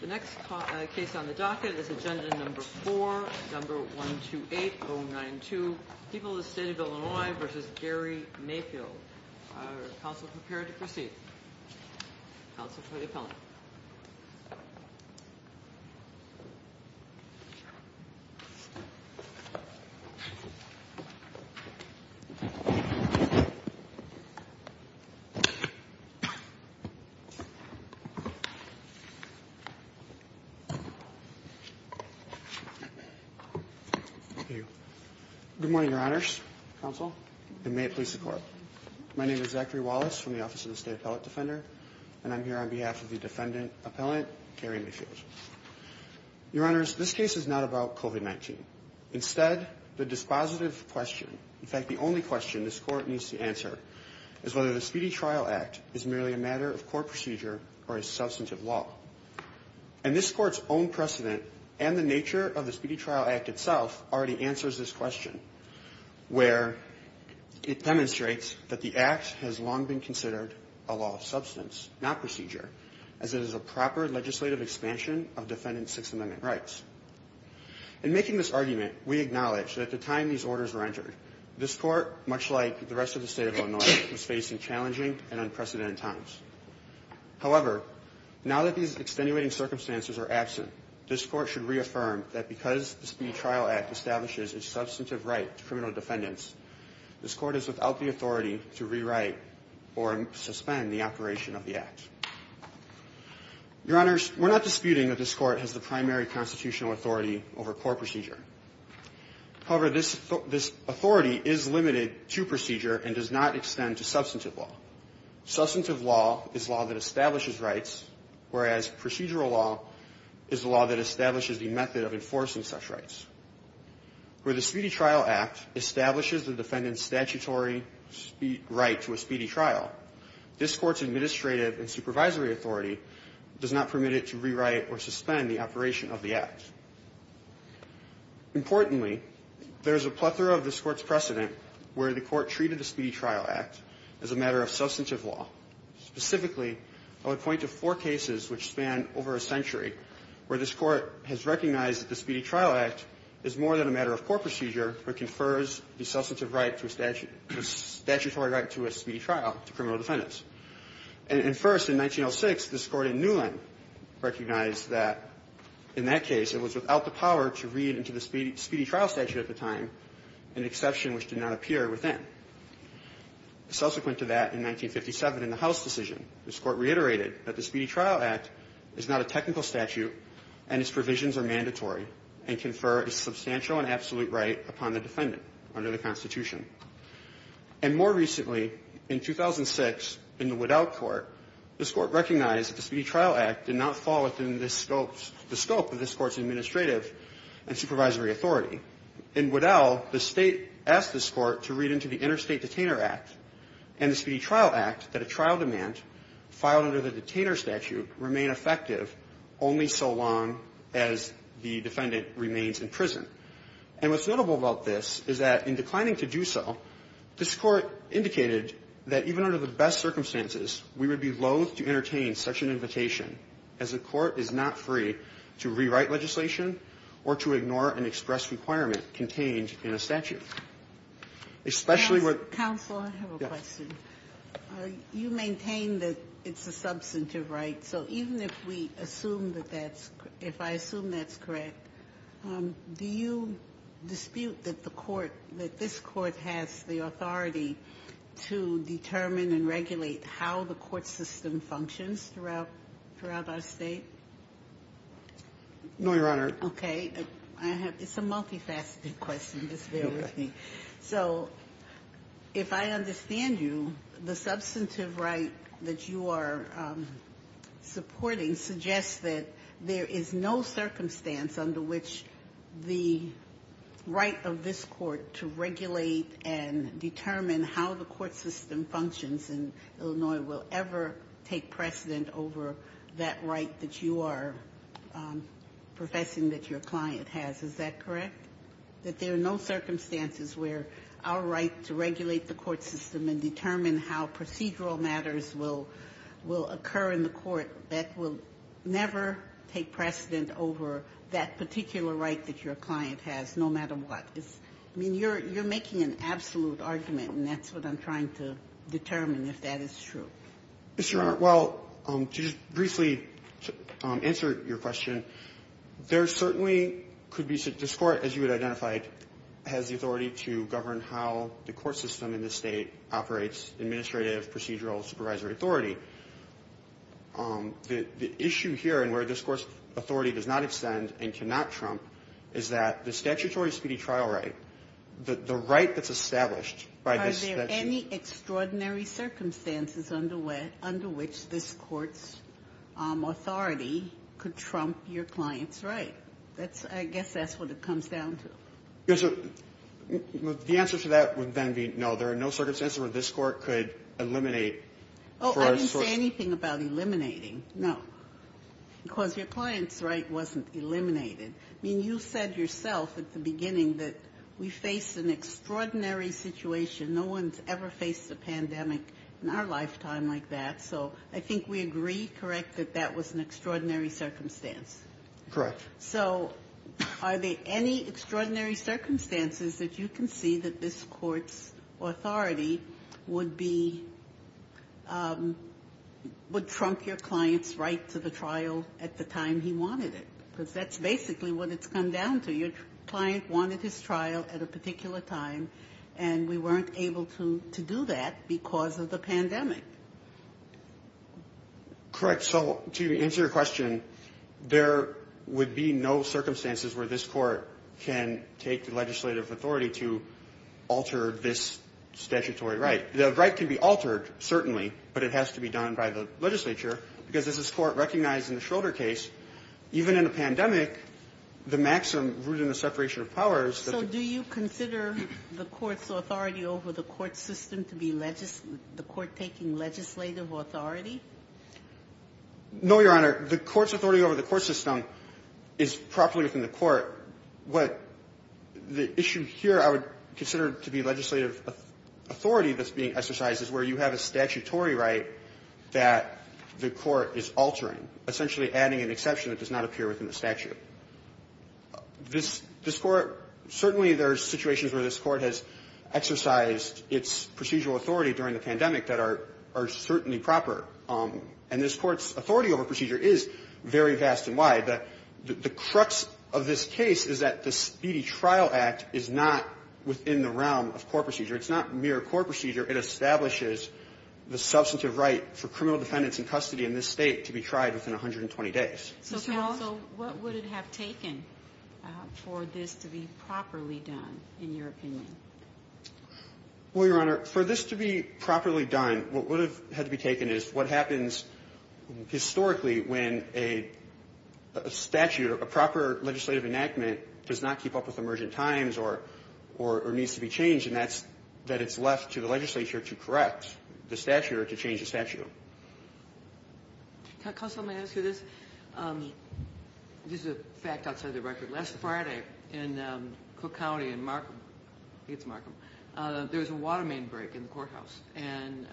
The next case on the docket is Agenda No. 4, No. 128-092, People of the State of Illinois v. Gary Mayfield. Are counsel prepared to proceed? Counsel for the appellant. Good morning, your honors, counsel, and may it please the court. My name is Zachary Wallace from the Office of the State Appellate Defender, and I'm here on behalf of the defendant appellant, Gary Mayfield. Your honors, this case is not about COVID-19. Instead, the dispositive question, in fact, the only question this court needs to answer, is whether the Speedy Trial Act is merely a matter of court procedure or a substantive law. And this court's own precedent and the nature of the Speedy Trial Act itself already answers this question, where it demonstrates that the act has long been considered a law of substance, not procedure, as it is a proper legislative expansion of defendant's Sixth Amendment rights. In making this argument, we acknowledge that at the time these orders were entered, this court, much like the rest of the State of Illinois, was facing challenging and unprecedented times. However, now that these extenuating circumstances are absent, this court should reaffirm that because the Speedy Trial Act establishes a substantive right to criminal defendants, this court is without the authority to rewrite or suspend the operation of the act. Your honors, we're not disputing that this court has the primary constitutional authority over court procedure. However, this authority is limited to procedure and does not extend to substantive law. Substantive law is law that establishes rights, whereas procedural law is the law that establishes the method of enforcing such rights. Where the Speedy Trial Act establishes the defendant's statutory right to a speedy trial, this court's administrative and supervisory authority does not permit it to rewrite or suspend the operation of the act. Importantly, there is a plethora of this court's precedent where the court treated the Speedy Trial Act as a matter of substantive law. Specifically, I would point to four cases which span over a century where this court has recognized that the Speedy Trial Act is more than a matter of court procedure. It confers the substantive right to a statutory right to a speedy trial to criminal defendants. And first, in 1906, this court in Newland recognized that, in that case, it was without the power to read into the speedy trial statute at the time, an exception which did not appear within. Subsequent to that, in 1957, in the House decision, this court reiterated that the Speedy Trial Act is not a technical statute and its provisions are mandatory and confer a substantial and absolute right upon the defendant under the Constitution. And more recently, in 2006, in the Waddell Court, this court recognized that the Speedy Trial Act did not fall within the scope of this court's administrative and supervisory authority. In Waddell, the State asked this court to read into the Interstate Detainer Act and the Speedy Trial Act that a trial demand filed under the detainer statute remain effective only so long as the defendant remains in prison. And what's notable about this is that, in declining to do so, this court indicated that, even under the best circumstances, we would be loath to entertain such an invitation as the court is not free to rewrite legislation or to ignore an express requirement contained in a statute. Especially with... Counsel, I have a question. Yeah. You maintain that it's a substantive right. So even if we assume that that's – if I assume that's correct, do you dispute that the court – that this court has the authority to determine and regulate how the court system functions throughout our State? No, Your Honor. Okay. I have – it's a multifaceted question. So if I understand you, the substantive right that you are supporting suggests that there is no circumstance under which the right of this court to regulate and determine how the court system functions in Illinois will ever take precedent over that right that you are professing that your client has. Is that correct? That there are no circumstances where our right to regulate the court system and determine how procedural matters will occur in the court that will never take precedent over that particular right that your client has, no matter what. I mean, you're making an absolute argument, and that's what I'm trying to determine, if that is true. Mr. Your Honor, well, to just briefly answer your question, there certainly could be – this court, as you had identified, has the authority to govern how the court system in this State operates, administrative, procedural, supervisory authority. The issue here and where this court's authority does not extend and cannot trump is that the statutory speedy trial right, the right that's established by this statute has any extraordinary circumstances under which this court's authority could trump your client's right. That's – I guess that's what it comes down to. Yes, so the answer to that would then be no, there are no circumstances where this court could eliminate for us – Oh, I didn't say anything about eliminating. No. Because your client's right wasn't eliminated. I mean, you said yourself at the beginning that we face an extraordinary situation. No one's ever faced a pandemic in our lifetime like that. So I think we agree, correct, that that was an extraordinary circumstance? Correct. So are there any extraordinary circumstances that you can see that this court's authority would be – would trump your client's right to the trial at the time he wanted it? Because that's basically what it's come down to. Your client wanted his trial at a particular time, and we weren't able to do that because of the pandemic. Correct. So to answer your question, there would be no circumstances where this court can take the legislative authority to alter this statutory right. The right can be altered, certainly, but it has to be done by the legislature. Because as this Court recognized in the Schroeder case, even in a pandemic, the maximum root in the separation of powers – So do you consider the court's authority over the court system to be the court taking legislative authority? No, Your Honor. The court's authority over the court system is properly within the court. The issue here I would consider to be legislative authority that's being exercised is where you have a statutory right that the court is altering, essentially adding an exception that does not appear within the statute. This court – certainly there are situations where this court has exercised its procedural authority during the pandemic that are certainly proper. And this court's authority over procedure is very vast and wide. The crux of this case is that the Speedy Trial Act is not within the realm of court procedure. It's not mere court procedure. It establishes the substantive right for criminal defendants in custody in this state to be tried within 120 days. So what would it have taken for this to be properly done, in your opinion? Well, Your Honor, for this to be properly done, what would have had to be taken is what happens historically when a statute or a proper legislative enactment does not keep up with emergent times or needs to be changed, and that it's left to the legislature to correct the statute or to change the statute. Counsel, may I ask you this? This is a fact outside of the record. Last Friday in Cook County in Markham – I think it's Markham – there was a water main break in the courthouse. And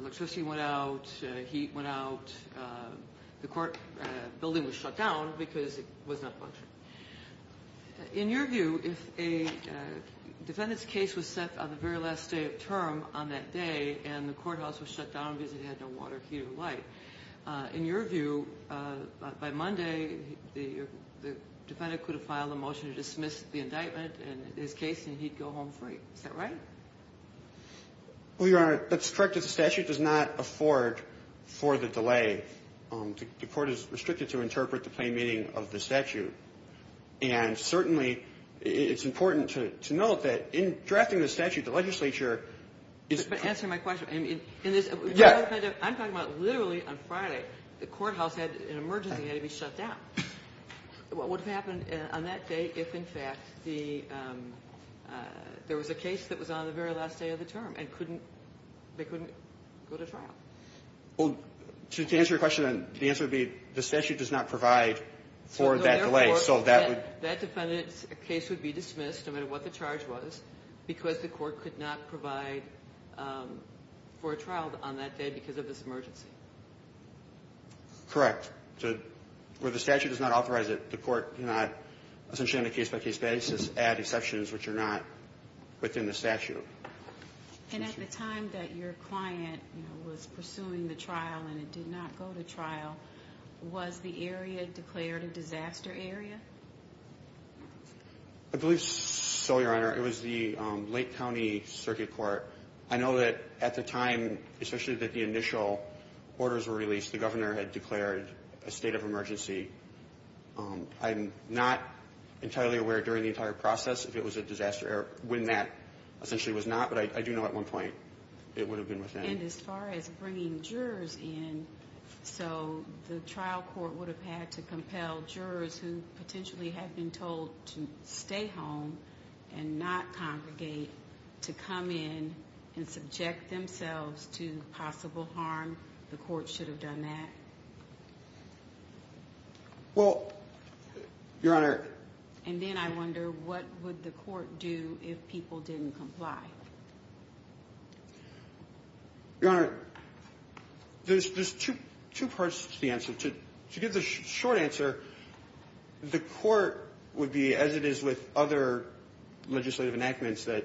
electricity went out. Heat went out. The building was shut down because it was not functioning. In your view, if a defendant's case was set on the very last day of term on that day and the courthouse was shut down because it had no water, heat or light, in your view, by Monday, the defendant could have filed a motion to dismiss the indictment and his case, and he'd go home free. Is that right? Well, Your Honor, that's correct if the statute does not afford for the delay. The court is restricted to interpret the plain meaning of the statute. And certainly it's important to note that in drafting the statute, the legislature is – But answering my question, in this – Yes. I'm talking about literally on Friday, the courthouse had – an emergency had to be shut down. What would have happened on that day if, in fact, the – there was a case that was on the very last day of the term and couldn't – they couldn't go to trial? Well, to answer your question, the answer would be the statute does not provide for that delay. So that would – That defendant's case would be dismissed, no matter what the charge was, because the court could not provide for a trial on that day because of this emergency. Correct. So where the statute does not authorize it, the court cannot, essentially on a case-by-case basis, add exceptions which are not within the statute. And at the time that your client was pursuing the trial and it did not go to trial, was the area declared a disaster area? I believe so, Your Honor. It was the Lake County Circuit Court. I know that at the time, especially that the initial orders were released, the governor had declared a state of emergency. I'm not entirely aware during the entire process if it was a disaster – or when that essentially was not, but I do know at one point it would have been within. And as far as bringing jurors in, so the trial court would have had to compel jurors who potentially had been told to stay home and not congregate to come in and subject themselves to possible harm. The court should have done that. Well, Your Honor – And then I wonder, what would the court do if people didn't comply? Your Honor, there's two parts to the answer. To give the short answer, the court would be, as it is with other legislative enactments that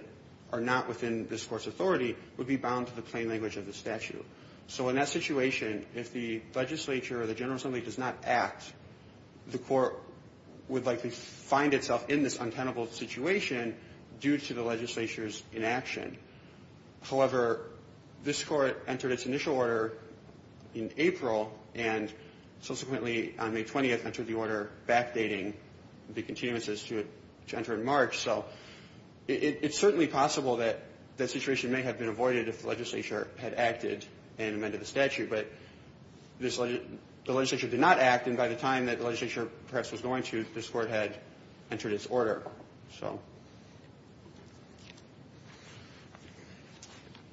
are not within this Court's authority, would be bound to the plain language of the statute. So in that situation, if the legislature or the general assembly does not act, the court would likely find itself in this untenable situation due to the legislature's inaction. However, this Court entered its initial order in April, and subsequently on May 20th entered the order backdating the continuances to enter in March. So it's certainly possible that that situation may have been avoided if the legislature had acted and amended the statute. But the legislature did not act, and by the time that the legislature perhaps was going to, this Court had entered its order.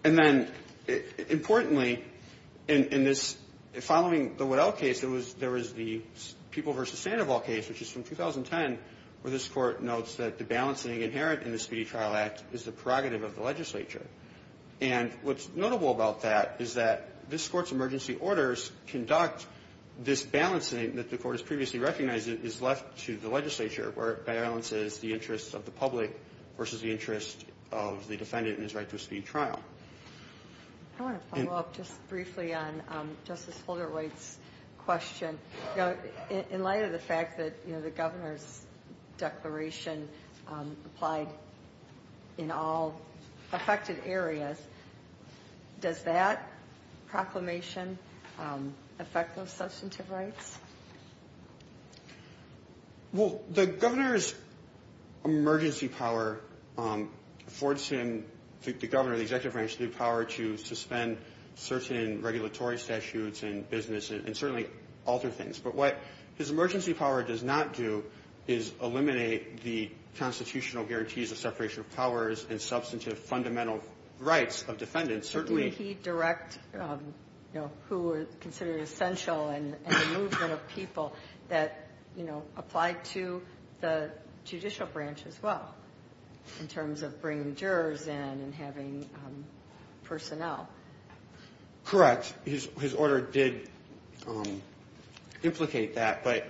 And then, importantly, in this – following the Waddell case, there was the People v. Sandoval case, which is from 2010, where this Court notes that the balancing inherent in the Speedy Trial Act is the prerogative of the legislature. And what's notable about that is that this Court's emergency orders conduct this balancing that the Court has previously recognized is left to the legislature, where it balances the interest of the public versus the interest of the defendant in his right to a speedy trial. I want to follow up just briefly on Justice Holderwhite's question. In light of the fact that the governor's declaration applied in all affected areas, does that proclamation affect those substantive rights? Well, the governor's emergency power affords him, the governor, the executive branch, the power to suspend certain regulatory statutes and business and certainly alter things. But what his emergency power does not do is eliminate the constitutional guarantees of separation of powers and substantive fundamental rights of defendants. But did he direct, you know, who were considered essential and a movement of people that, you know, applied to the judicial branch as well, in terms of bringing jurors in and having personnel? Correct. His order did implicate that. But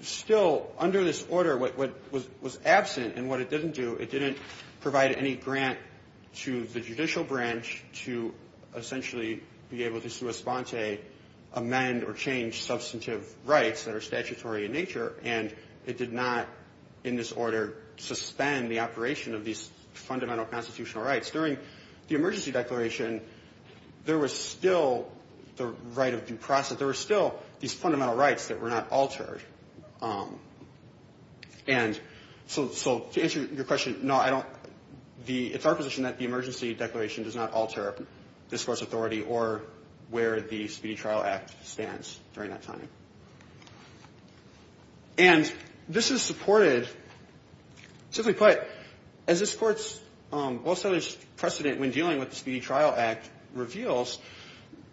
still, under this order, what was absent and what it didn't do, it didn't provide any grant to the judicial branch to essentially be able to, sous espante, amend or change substantive rights that are statutory in nature. And it did not, in this order, suspend the operation of these fundamental constitutional rights. During the emergency declaration, there was still the right of due process. There were still these fundamental rights that were not altered. And so to answer your question, no, I don't the – it's our position that the emergency declaration does not alter this Court's authority or where the Speedy Trial Act stands during that time. And this is supported. Simply put, as this Court's well-studied precedent when dealing with the Speedy Trial Act reveals,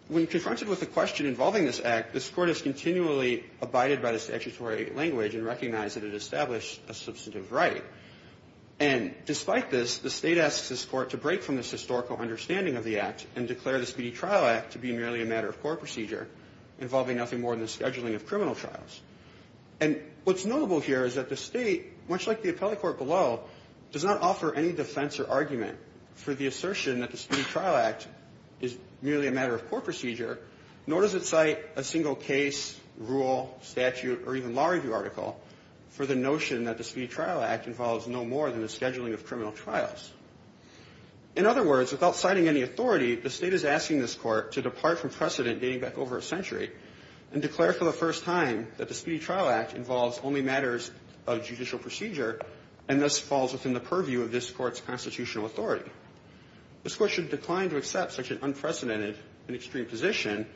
when confronted with a question involving this Act, this Court has continually abided by the statutory language and recognized that it established a substantive right. And despite this, the State asks this Court to break from this historical understanding of the Act and declare the Speedy Trial Act to be merely a matter of court procedure involving nothing more than the scheduling of criminal trials. And what's notable here is that the State, much like the appellate court below, does not offer any defense or argument for the assertion that the Speedy Trial Act is merely a matter of court procedure, nor does it cite a single case, rule, statute, or even law review article for the notion that the Speedy Trial Act involves no more than the scheduling of criminal trials. In other words, without citing any authority, the State is asking this Court to depart from precedent dating back over a century and declare for the first time that the Speedy Trial Act involves only matters of judicial procedure and thus falls within the purview of this Court's constitutional authority. This Court should decline to accept such an unprecedented and extreme position.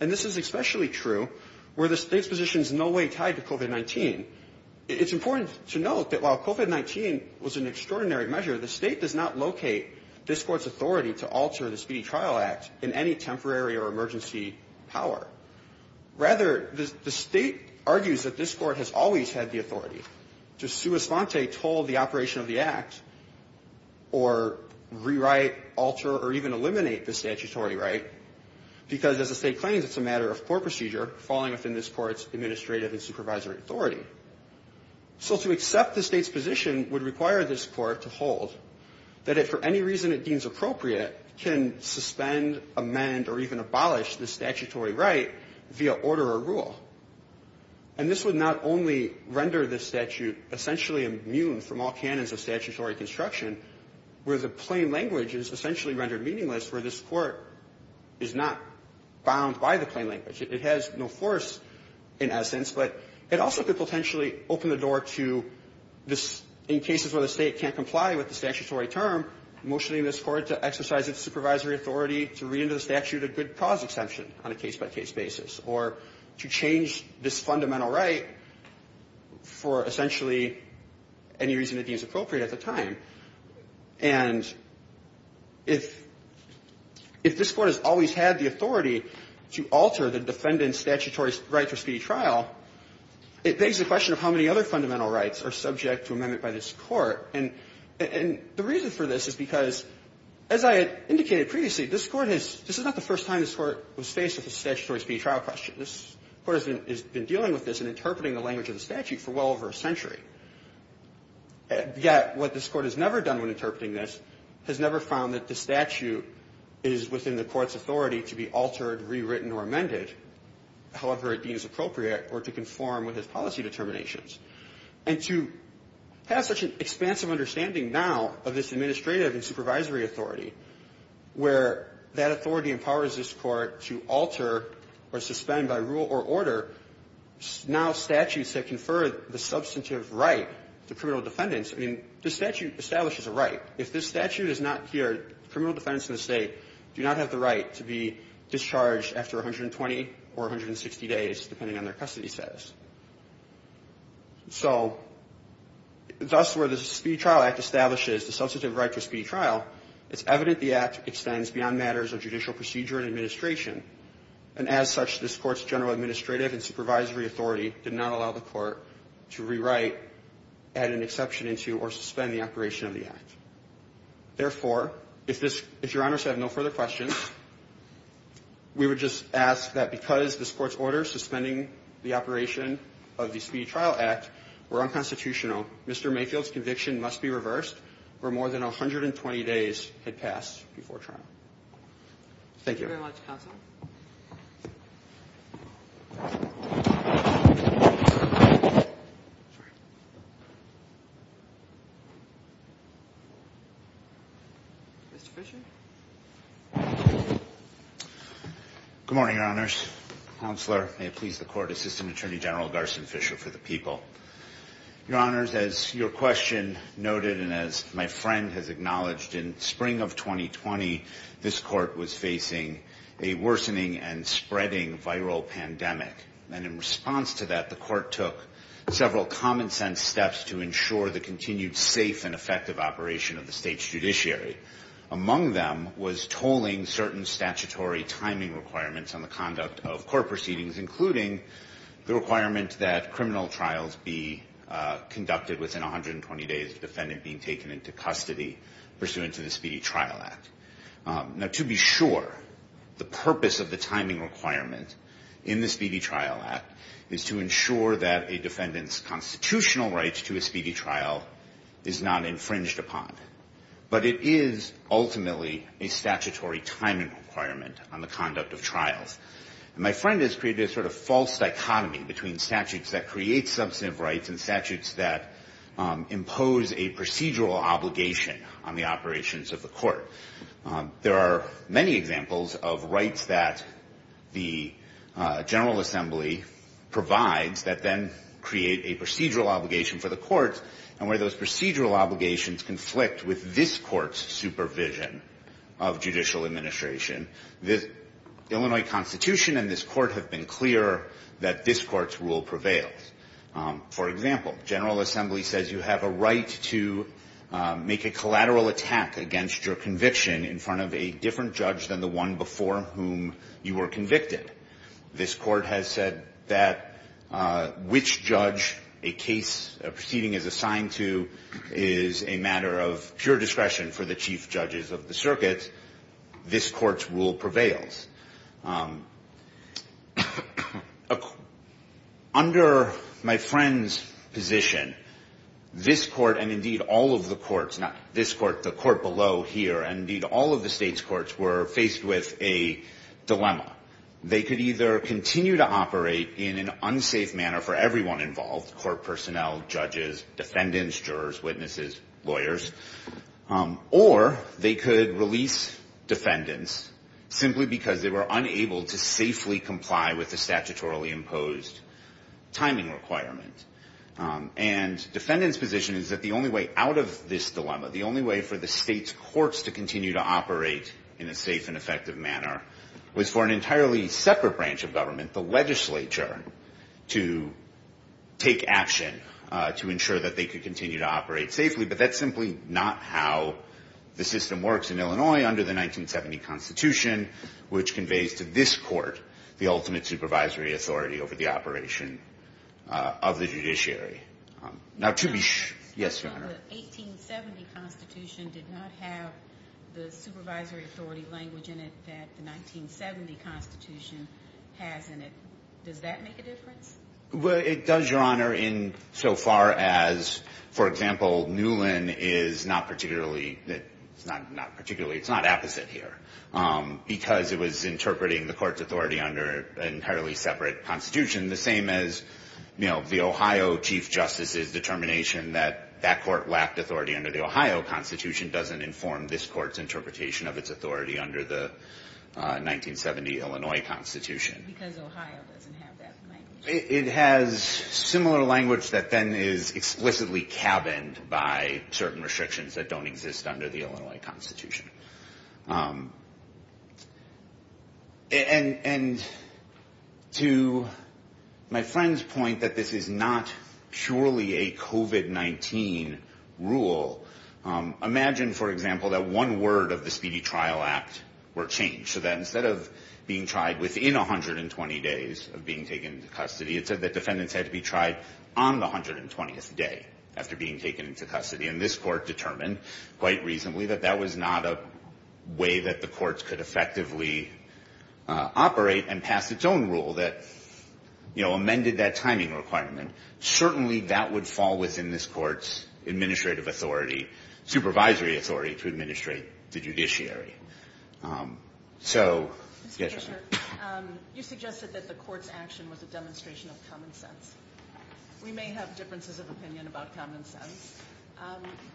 And this is especially true where the State's position is in no way tied to COVID-19. It's important to note that while COVID-19 was an extraordinary measure, the State does not locate this Court's authority to alter the Speedy Trial Act in any temporary or emergency power. Rather, the State argues that this Court has always had the authority to sua alter or even eliminate the statutory right because, as the State claims, it's a matter of court procedure falling within this Court's administrative and supervisory authority. So to accept the State's position would require this Court to hold that it, for any reason it deems appropriate, can suspend, amend, or even abolish the statutory right via order or rule. And this would not only render this statute essentially immune from all canons of violation, but the claim language is essentially rendered meaningless where this Court is not bound by the claim language. It has no force in essence, but it also could potentially open the door to this, in cases where the State can't comply with the statutory term, motioning this Court to exercise its supervisory authority to read into the statute a good cause exemption on a case-by-case basis, or to change this fundamental right for essentially any reason it deems appropriate at the time. And if this Court has always had the authority to alter the defendant's statutory right for speedy trial, it begs the question of how many other fundamental rights are subject to amendment by this Court. And the reason for this is because, as I had indicated previously, this Court has – this is not the first time this Court was faced with a statutory speedy trial question. This Court has been dealing with this and interpreting the language of the statute for well over a century. Yet what this Court has never done when interpreting this has never found that the statute is within the Court's authority to be altered, rewritten, or amended however it deems appropriate or to conform with its policy determinations. And to have such an expansive understanding now of this administrative and supervisory authority, where that authority empowers this Court to alter or suspend by rule or order, now statutes have conferred the substantive right to criminal defendants. I mean, this statute establishes a right. If this statute is not here, criminal defendants in the State do not have the right to be discharged after 120 or 160 days, depending on their custody status. So thus, where the Speedy Trial Act establishes the substantive right to a speedy trial, it's evident the Act extends beyond matters of judicial procedure and administration. And as such, this Court's general administrative and supervisory authority did not allow the Court to rewrite, add an exception into, or suspend the operation of the Act. Therefore, if this – if Your Honors have no further questions, we would just ask that because this Court's orders suspending the operation of the Speedy Trial Act were unconstitutional, Mr. Mayfield's conviction must be reversed, where more than 120 days had passed before trial. Thank you. Thank you very much, Counsel. Mr. Fischer? Good morning, Your Honors. Counselor, may it please the Court, Assistant Attorney General Garson Fischer for the people. Your Honors, as your question noted and as my friend has acknowledged, in spring of 2020, this Court was facing a worsening and spreading viral pandemic. And in response to that, the Court took several common-sense steps to ensure the continued safe and effective operation of the State's judiciary. Among them was tolling certain statutory timing requirements on the conduct of court proceedings, including the requirement that criminal trials be conducted within 120 days of the defendant being taken into custody pursuant to the Speedy Trial Act. Now, to be sure, the purpose of the timing requirement in the Speedy Trial Act is to ensure that a defendant's constitutional rights to a Speedy Trial is not infringed upon. But it is ultimately a statutory timing requirement on the conduct of trials. And my friend has created a sort of false dichotomy between statutes that create substantive rights and statutes that impose a procedural obligation on the operations of the Court. There are many examples of rights that the General Assembly provides that then create a procedural obligation for the Court. And where those procedural obligations conflict with this Court's supervision of judicial administration, the Illinois Constitution and this Court have been clear that this Court's rule prevails. For example, General Assembly says you have a right to make a collateral attack against your conviction in front of a different judge than the one before whom you were convicted. This Court has said that which judge a case proceeding is assigned to is a matter of pure discretion for the chief judges of the circuit. This Court's rule prevails. Under my friend's position, this Court, and indeed all of the courts, not this Court below here, and indeed all of the states' courts were faced with a dilemma. They could either continue to operate in an unsafe manner for everyone involved, court personnel, judges, defendants, jurors, witnesses, lawyers, or they could release defendants simply because they were unable to safely comply with the statutorily imposed timing requirement. And defendants' position is that the only way out of this dilemma, the only way for the states' courts to continue to operate in a safe and effective manner, was for an entirely separate branch of government, the legislature, to take action to ensure that they could continue to operate safely. But that's simply not how the system works in Illinois under the 1970 Constitution, which conveys to this Court the ultimate supervisory authority over the operation of the judiciary. Now, to be sure. Yes, Your Honor. The 1870 Constitution did not have the supervisory authority language in it that the 1970 Constitution has in it. Does that make a difference? Well, it does, Your Honor, in so far as, for example, Newlin is not particularly – it's not particularly – it's not apposite here because it was interpreting that that court lacked authority under the Ohio Constitution doesn't inform this Court's interpretation of its authority under the 1970 Illinois Constitution. Because Ohio doesn't have that language. It has similar language that then is explicitly cabined by certain restrictions that don't exist under the Illinois Constitution. And to my friend's point that this is not purely a COVID-19 rule, imagine, for example, that one word of the Speedy Trial Act were changed so that instead of being tried within 120 days of being taken into custody, it said that defendants had to be tried on the 120th day after being taken into custody. And this Court determined quite reasonably that that was not a part of the way that the courts could effectively operate and pass its own rule that, you know, amended that timing requirement. Certainly that would fall within this Court's administrative authority, supervisory authority to administrate the judiciary. So, yes, Your Honor. Mr. Kishore, you suggested that the Court's action was a demonstration of common sense. We may have differences of opinion about common sense.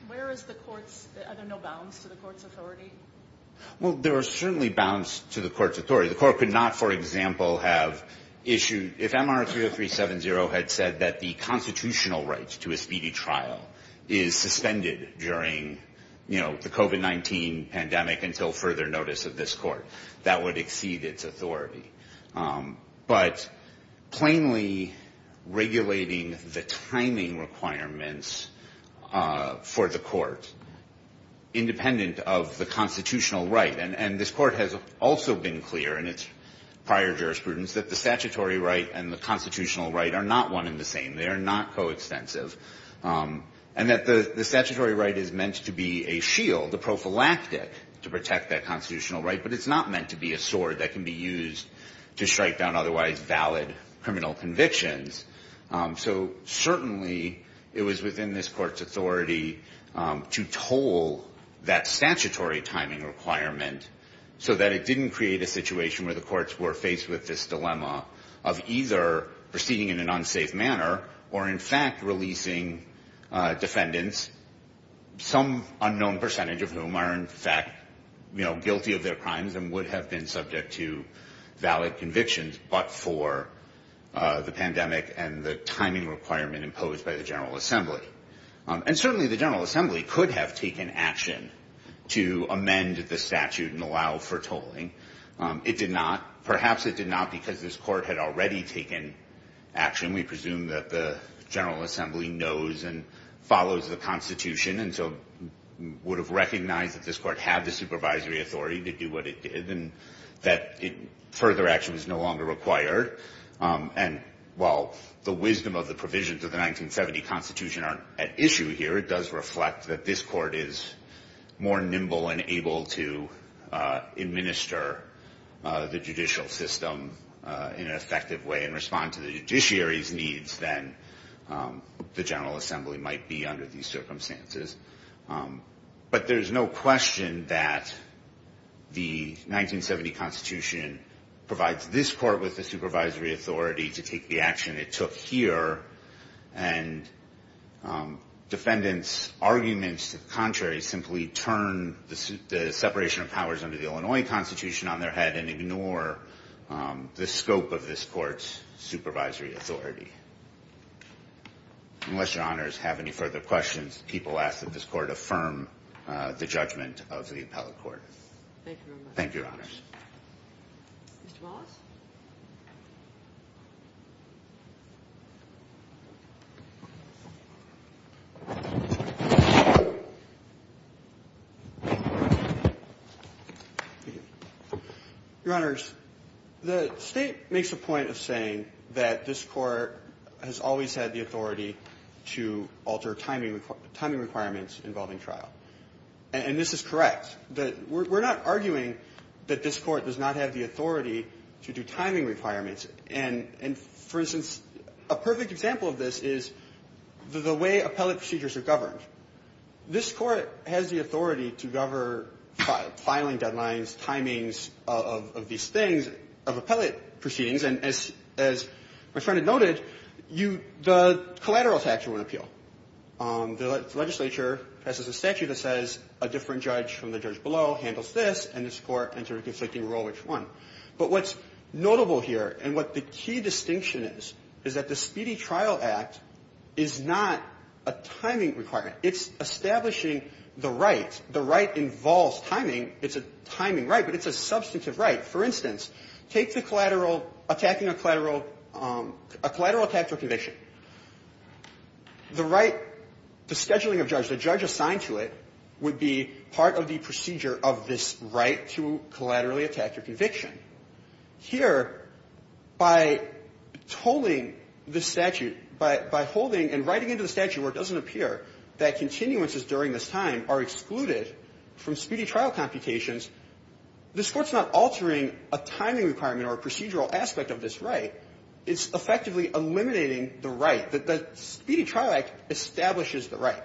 Where is the Court's – are there no bounds to the Court's authority? Well, there are certainly bounds to the Court's authority. The Court could not, for example, have issued – if MR-30370 had said that the constitutional right to a speedy trial is suspended during, you know, the COVID-19 pandemic until further notice of this Court, that would exceed its authority. But plainly regulating the timing requirements for the Court, independent of the constitutional right – and this Court has also been clear in its prior jurisprudence that the statutory right and the constitutional right are not one and the same. They are not coextensive. And that the statutory right is meant to be a shield, a prophylactic, to protect that constitutional right. But it's not meant to be a sword that can be used to strike down otherwise valid criminal convictions. So certainly it was within this Court's authority to toll that statutory timing requirement so that it didn't create a situation where the courts were faced with this dilemma of either proceeding in an unsafe manner or, in fact, releasing defendants, some unknown percentage of whom are, in fact, you know, guilty of their crimes and would have been subject to valid convictions, but for the pandemic and the timing requirement imposed by the General Assembly. And certainly the General Assembly could have taken action to amend the statute and allow for tolling. It did not. Perhaps it did not because this Court had already taken action. We presume that the General Assembly knows and follows the Constitution and so would have recognized that this Court had the supervisory authority to do what it did and that further action was no longer required. And while the wisdom of the provisions of the 1970 Constitution aren't at issue here, it does reflect that this Court is more nimble and able to administer the judicial system in an effective way and respond to the judiciary's needs than the General Assembly might be under these circumstances. But there's no question that the 1970 Constitution provides this Court with the supervisory authority to take the action it took here and defendants' arguments to the contrary simply turn the separation of powers under the Illinois Constitution on their head and ignore the scope of this Court's supervisory authority. Unless Your Honors have any further questions, people ask that this Court affirm the judgment of the appellate court. Thank you very much. Thank you, Your Honors. Mr. Wallace? Thank you. Your Honors, the State makes a point of saying that this Court has always had the authority to alter timing requirements involving trial. And this is correct. We're not arguing that this Court does not have the authority to do timing requirements. And for instance, a perfect example of this is the way appellate procedures are governed. This Court has the authority to govern filing deadlines, timings of these things, of appellate proceedings. And as my friend had noted, the collateral tax won't appeal. The legislature passes a statute that says a different judge from the judge below handles this, and this Court enters a conflicting role which won. But what's notable here and what the key distinction is, is that the Speedy Trial Act is not a timing requirement. It's establishing the right. The right involves timing. It's a timing right, but it's a substantive right. For instance, take the collateral, attacking a collateral, a collateral tax or conviction. The right, the scheduling of judge, the judge assigned to it would be part of the procedure of this right to collaterally attack your conviction. Here, by tolling the statute, by holding and writing into the statute where it doesn't appear that continuances during this time are excluded from speedy trial computations, this Court's not altering a timing requirement or a procedural aspect of this right. It's effectively eliminating the right. The Speedy Trial Act establishes the right.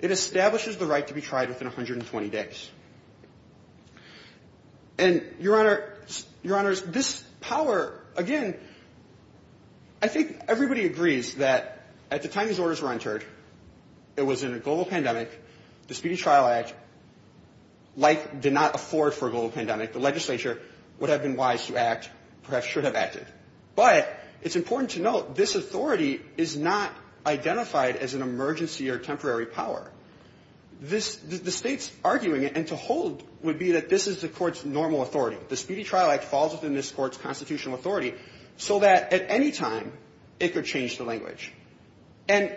It establishes the right to be tried within 120 days. And, Your Honor, Your Honors, this power, again, I think everybody agrees that at the time these orders were entered, it was in a global pandemic. The Speedy Trial Act, like, did not afford for a global pandemic. The legislature would have been wise to act, perhaps should have acted. But it's important to note this authority is not identified as an emergency or temporary power. This, the State's arguing it and to hold would be that this is the Court's normal authority. The Speedy Trial Act falls within this Court's constitutional authority so that at any time it could change the language. And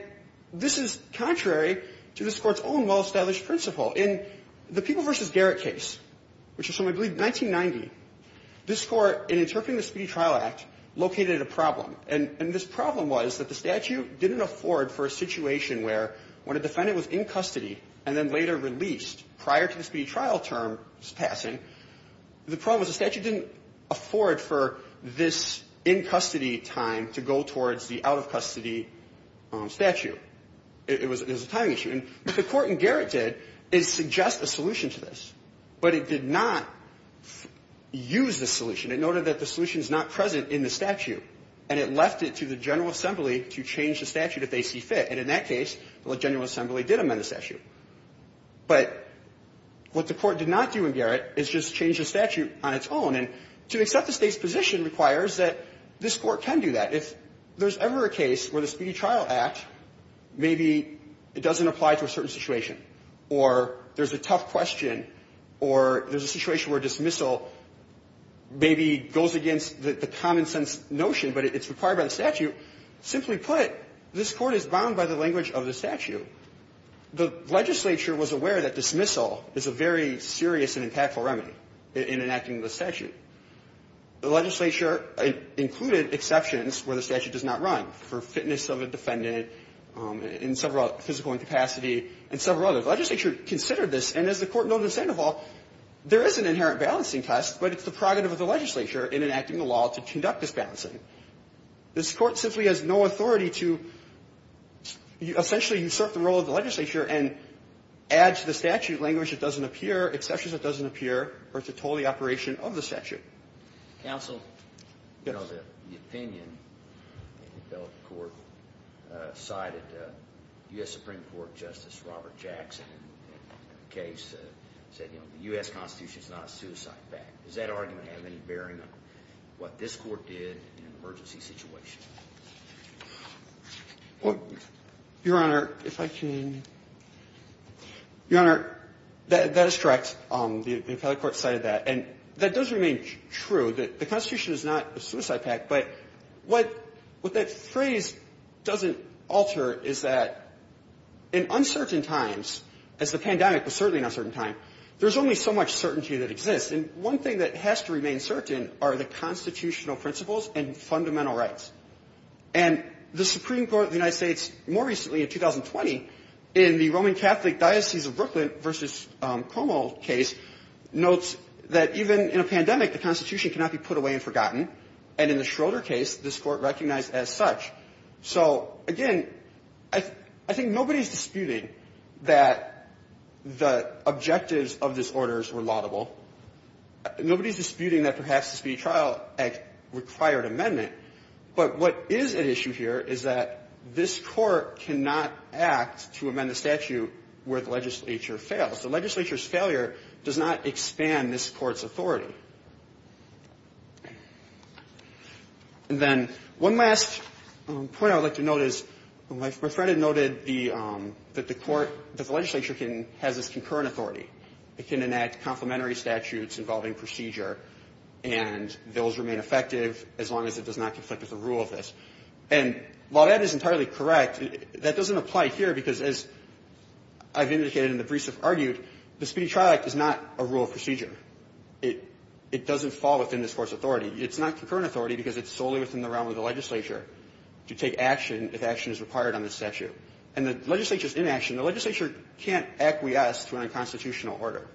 this is contrary to this Court's own well-established principle. In the People v. Garrett case, which was from, I believe, 1990, this Court, in interpreting the Speedy Trial Act, located a problem. And this problem was that the statute didn't afford for a situation where when a defendant was in custody and then later released prior to the speedy trial term's passing, the problem was the statute didn't afford for this in-custody time to go towards the out-of-custody statute. It was a timing issue. And what the Court in Garrett did is suggest a solution to this. But it did not use the solution. It noted that the solution is not present in the statute. And it left it to the General Assembly to change the statute if they see fit. And in that case, the General Assembly did amend the statute. But what the Court did not do in Garrett is just change the statute on its own. And to accept the State's position requires that this Court can do that. If there's ever a case where the Speedy Trial Act, maybe it doesn't apply to a certain situation, or there's a tough question, or there's a situation where dismissal maybe goes against the common-sense notion, but it's required by the statute, simply put, this Court is bound by the language of the statute. The legislature was aware that dismissal is a very serious and impactful remedy in enacting the statute. The legislature included exceptions where the statute does not run, for fitness of a defendant, in several physical incapacity, and several others. The legislature considered this. And as the Court noted in Sandoval, there is an inherent balancing test, but it's the prerogative of the legislature in enacting the law to conduct this balancing. This Court simply has no authority to essentially usurp the role of the legislature and add to the statute language that doesn't appear, exceptions that doesn't appear, or to toll the operation of the statute. Counsel? Yes. You know, the opinion in the federal court sided U.S. Supreme Court Justice Robert Jackson in a case that said, you know, the U.S. Constitution is not a suicide pact. Does that argument have any bearing on what this Court did in an emergency situation? Well, Your Honor, if I can ---- Your Honor, that is correct. The appellate court sided that. And that does remain true, that the Constitution is not a suicide pact. But what that phrase doesn't alter is that in uncertain times, as the pandemic was certainly an uncertain time, there's only so much certainty that exists. And one thing that has to remain certain are the constitutional principles and fundamental rights. And the Supreme Court of the United States more recently, in 2020, in the Roman Catholic Diocese of Brooklyn v. Cuomo case, notes that even in a pandemic, the Constitution cannot be put away and forgotten. And in the Schroeder case, this Court recognized as such. So, again, I think nobody is disputing that the objectives of this order were laudable. Nobody is disputing that perhaps the Speedy Trial Act required amendment. But what is at issue here is that this Court cannot act to amend the statute where the legislature fails. The legislature's failure does not expand this Court's authority. And then one last point I would like to note is, my friend had noted the ---- that the Court ---- that the legislature can ---- has this concurrent authority. It can enact complementary statutes involving procedure, and those remain effective as long as it does not conflict with the rule of this. And while that is entirely correct, that doesn't apply here because, as I've indicated and the briefs have argued, the Speedy Trial Act is not a rule of procedure. It doesn't fall within this Court's authority. It's not concurrent authority because it's solely within the realm of the legislature to take action if action is required on this statute. And the legislature is inaction. The legislature can't acquiesce to an unconstitutional order.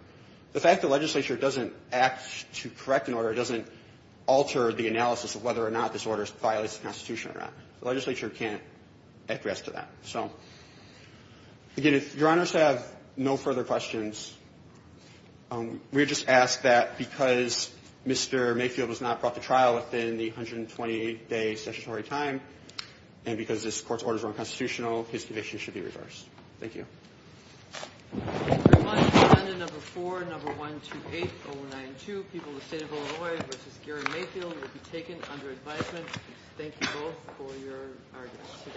The fact the legislature doesn't act to correct an order doesn't alter the analysis of whether or not this order violates the Constitution or not. The legislature can't acquiesce to that. So, again, if Your Honors have no further questions, we would just ask that because Mr. Mayfield has not brought the trial within the 128-day statutory time and because this Court's orders are unconstitutional, his conviction should be reversed. Thank you.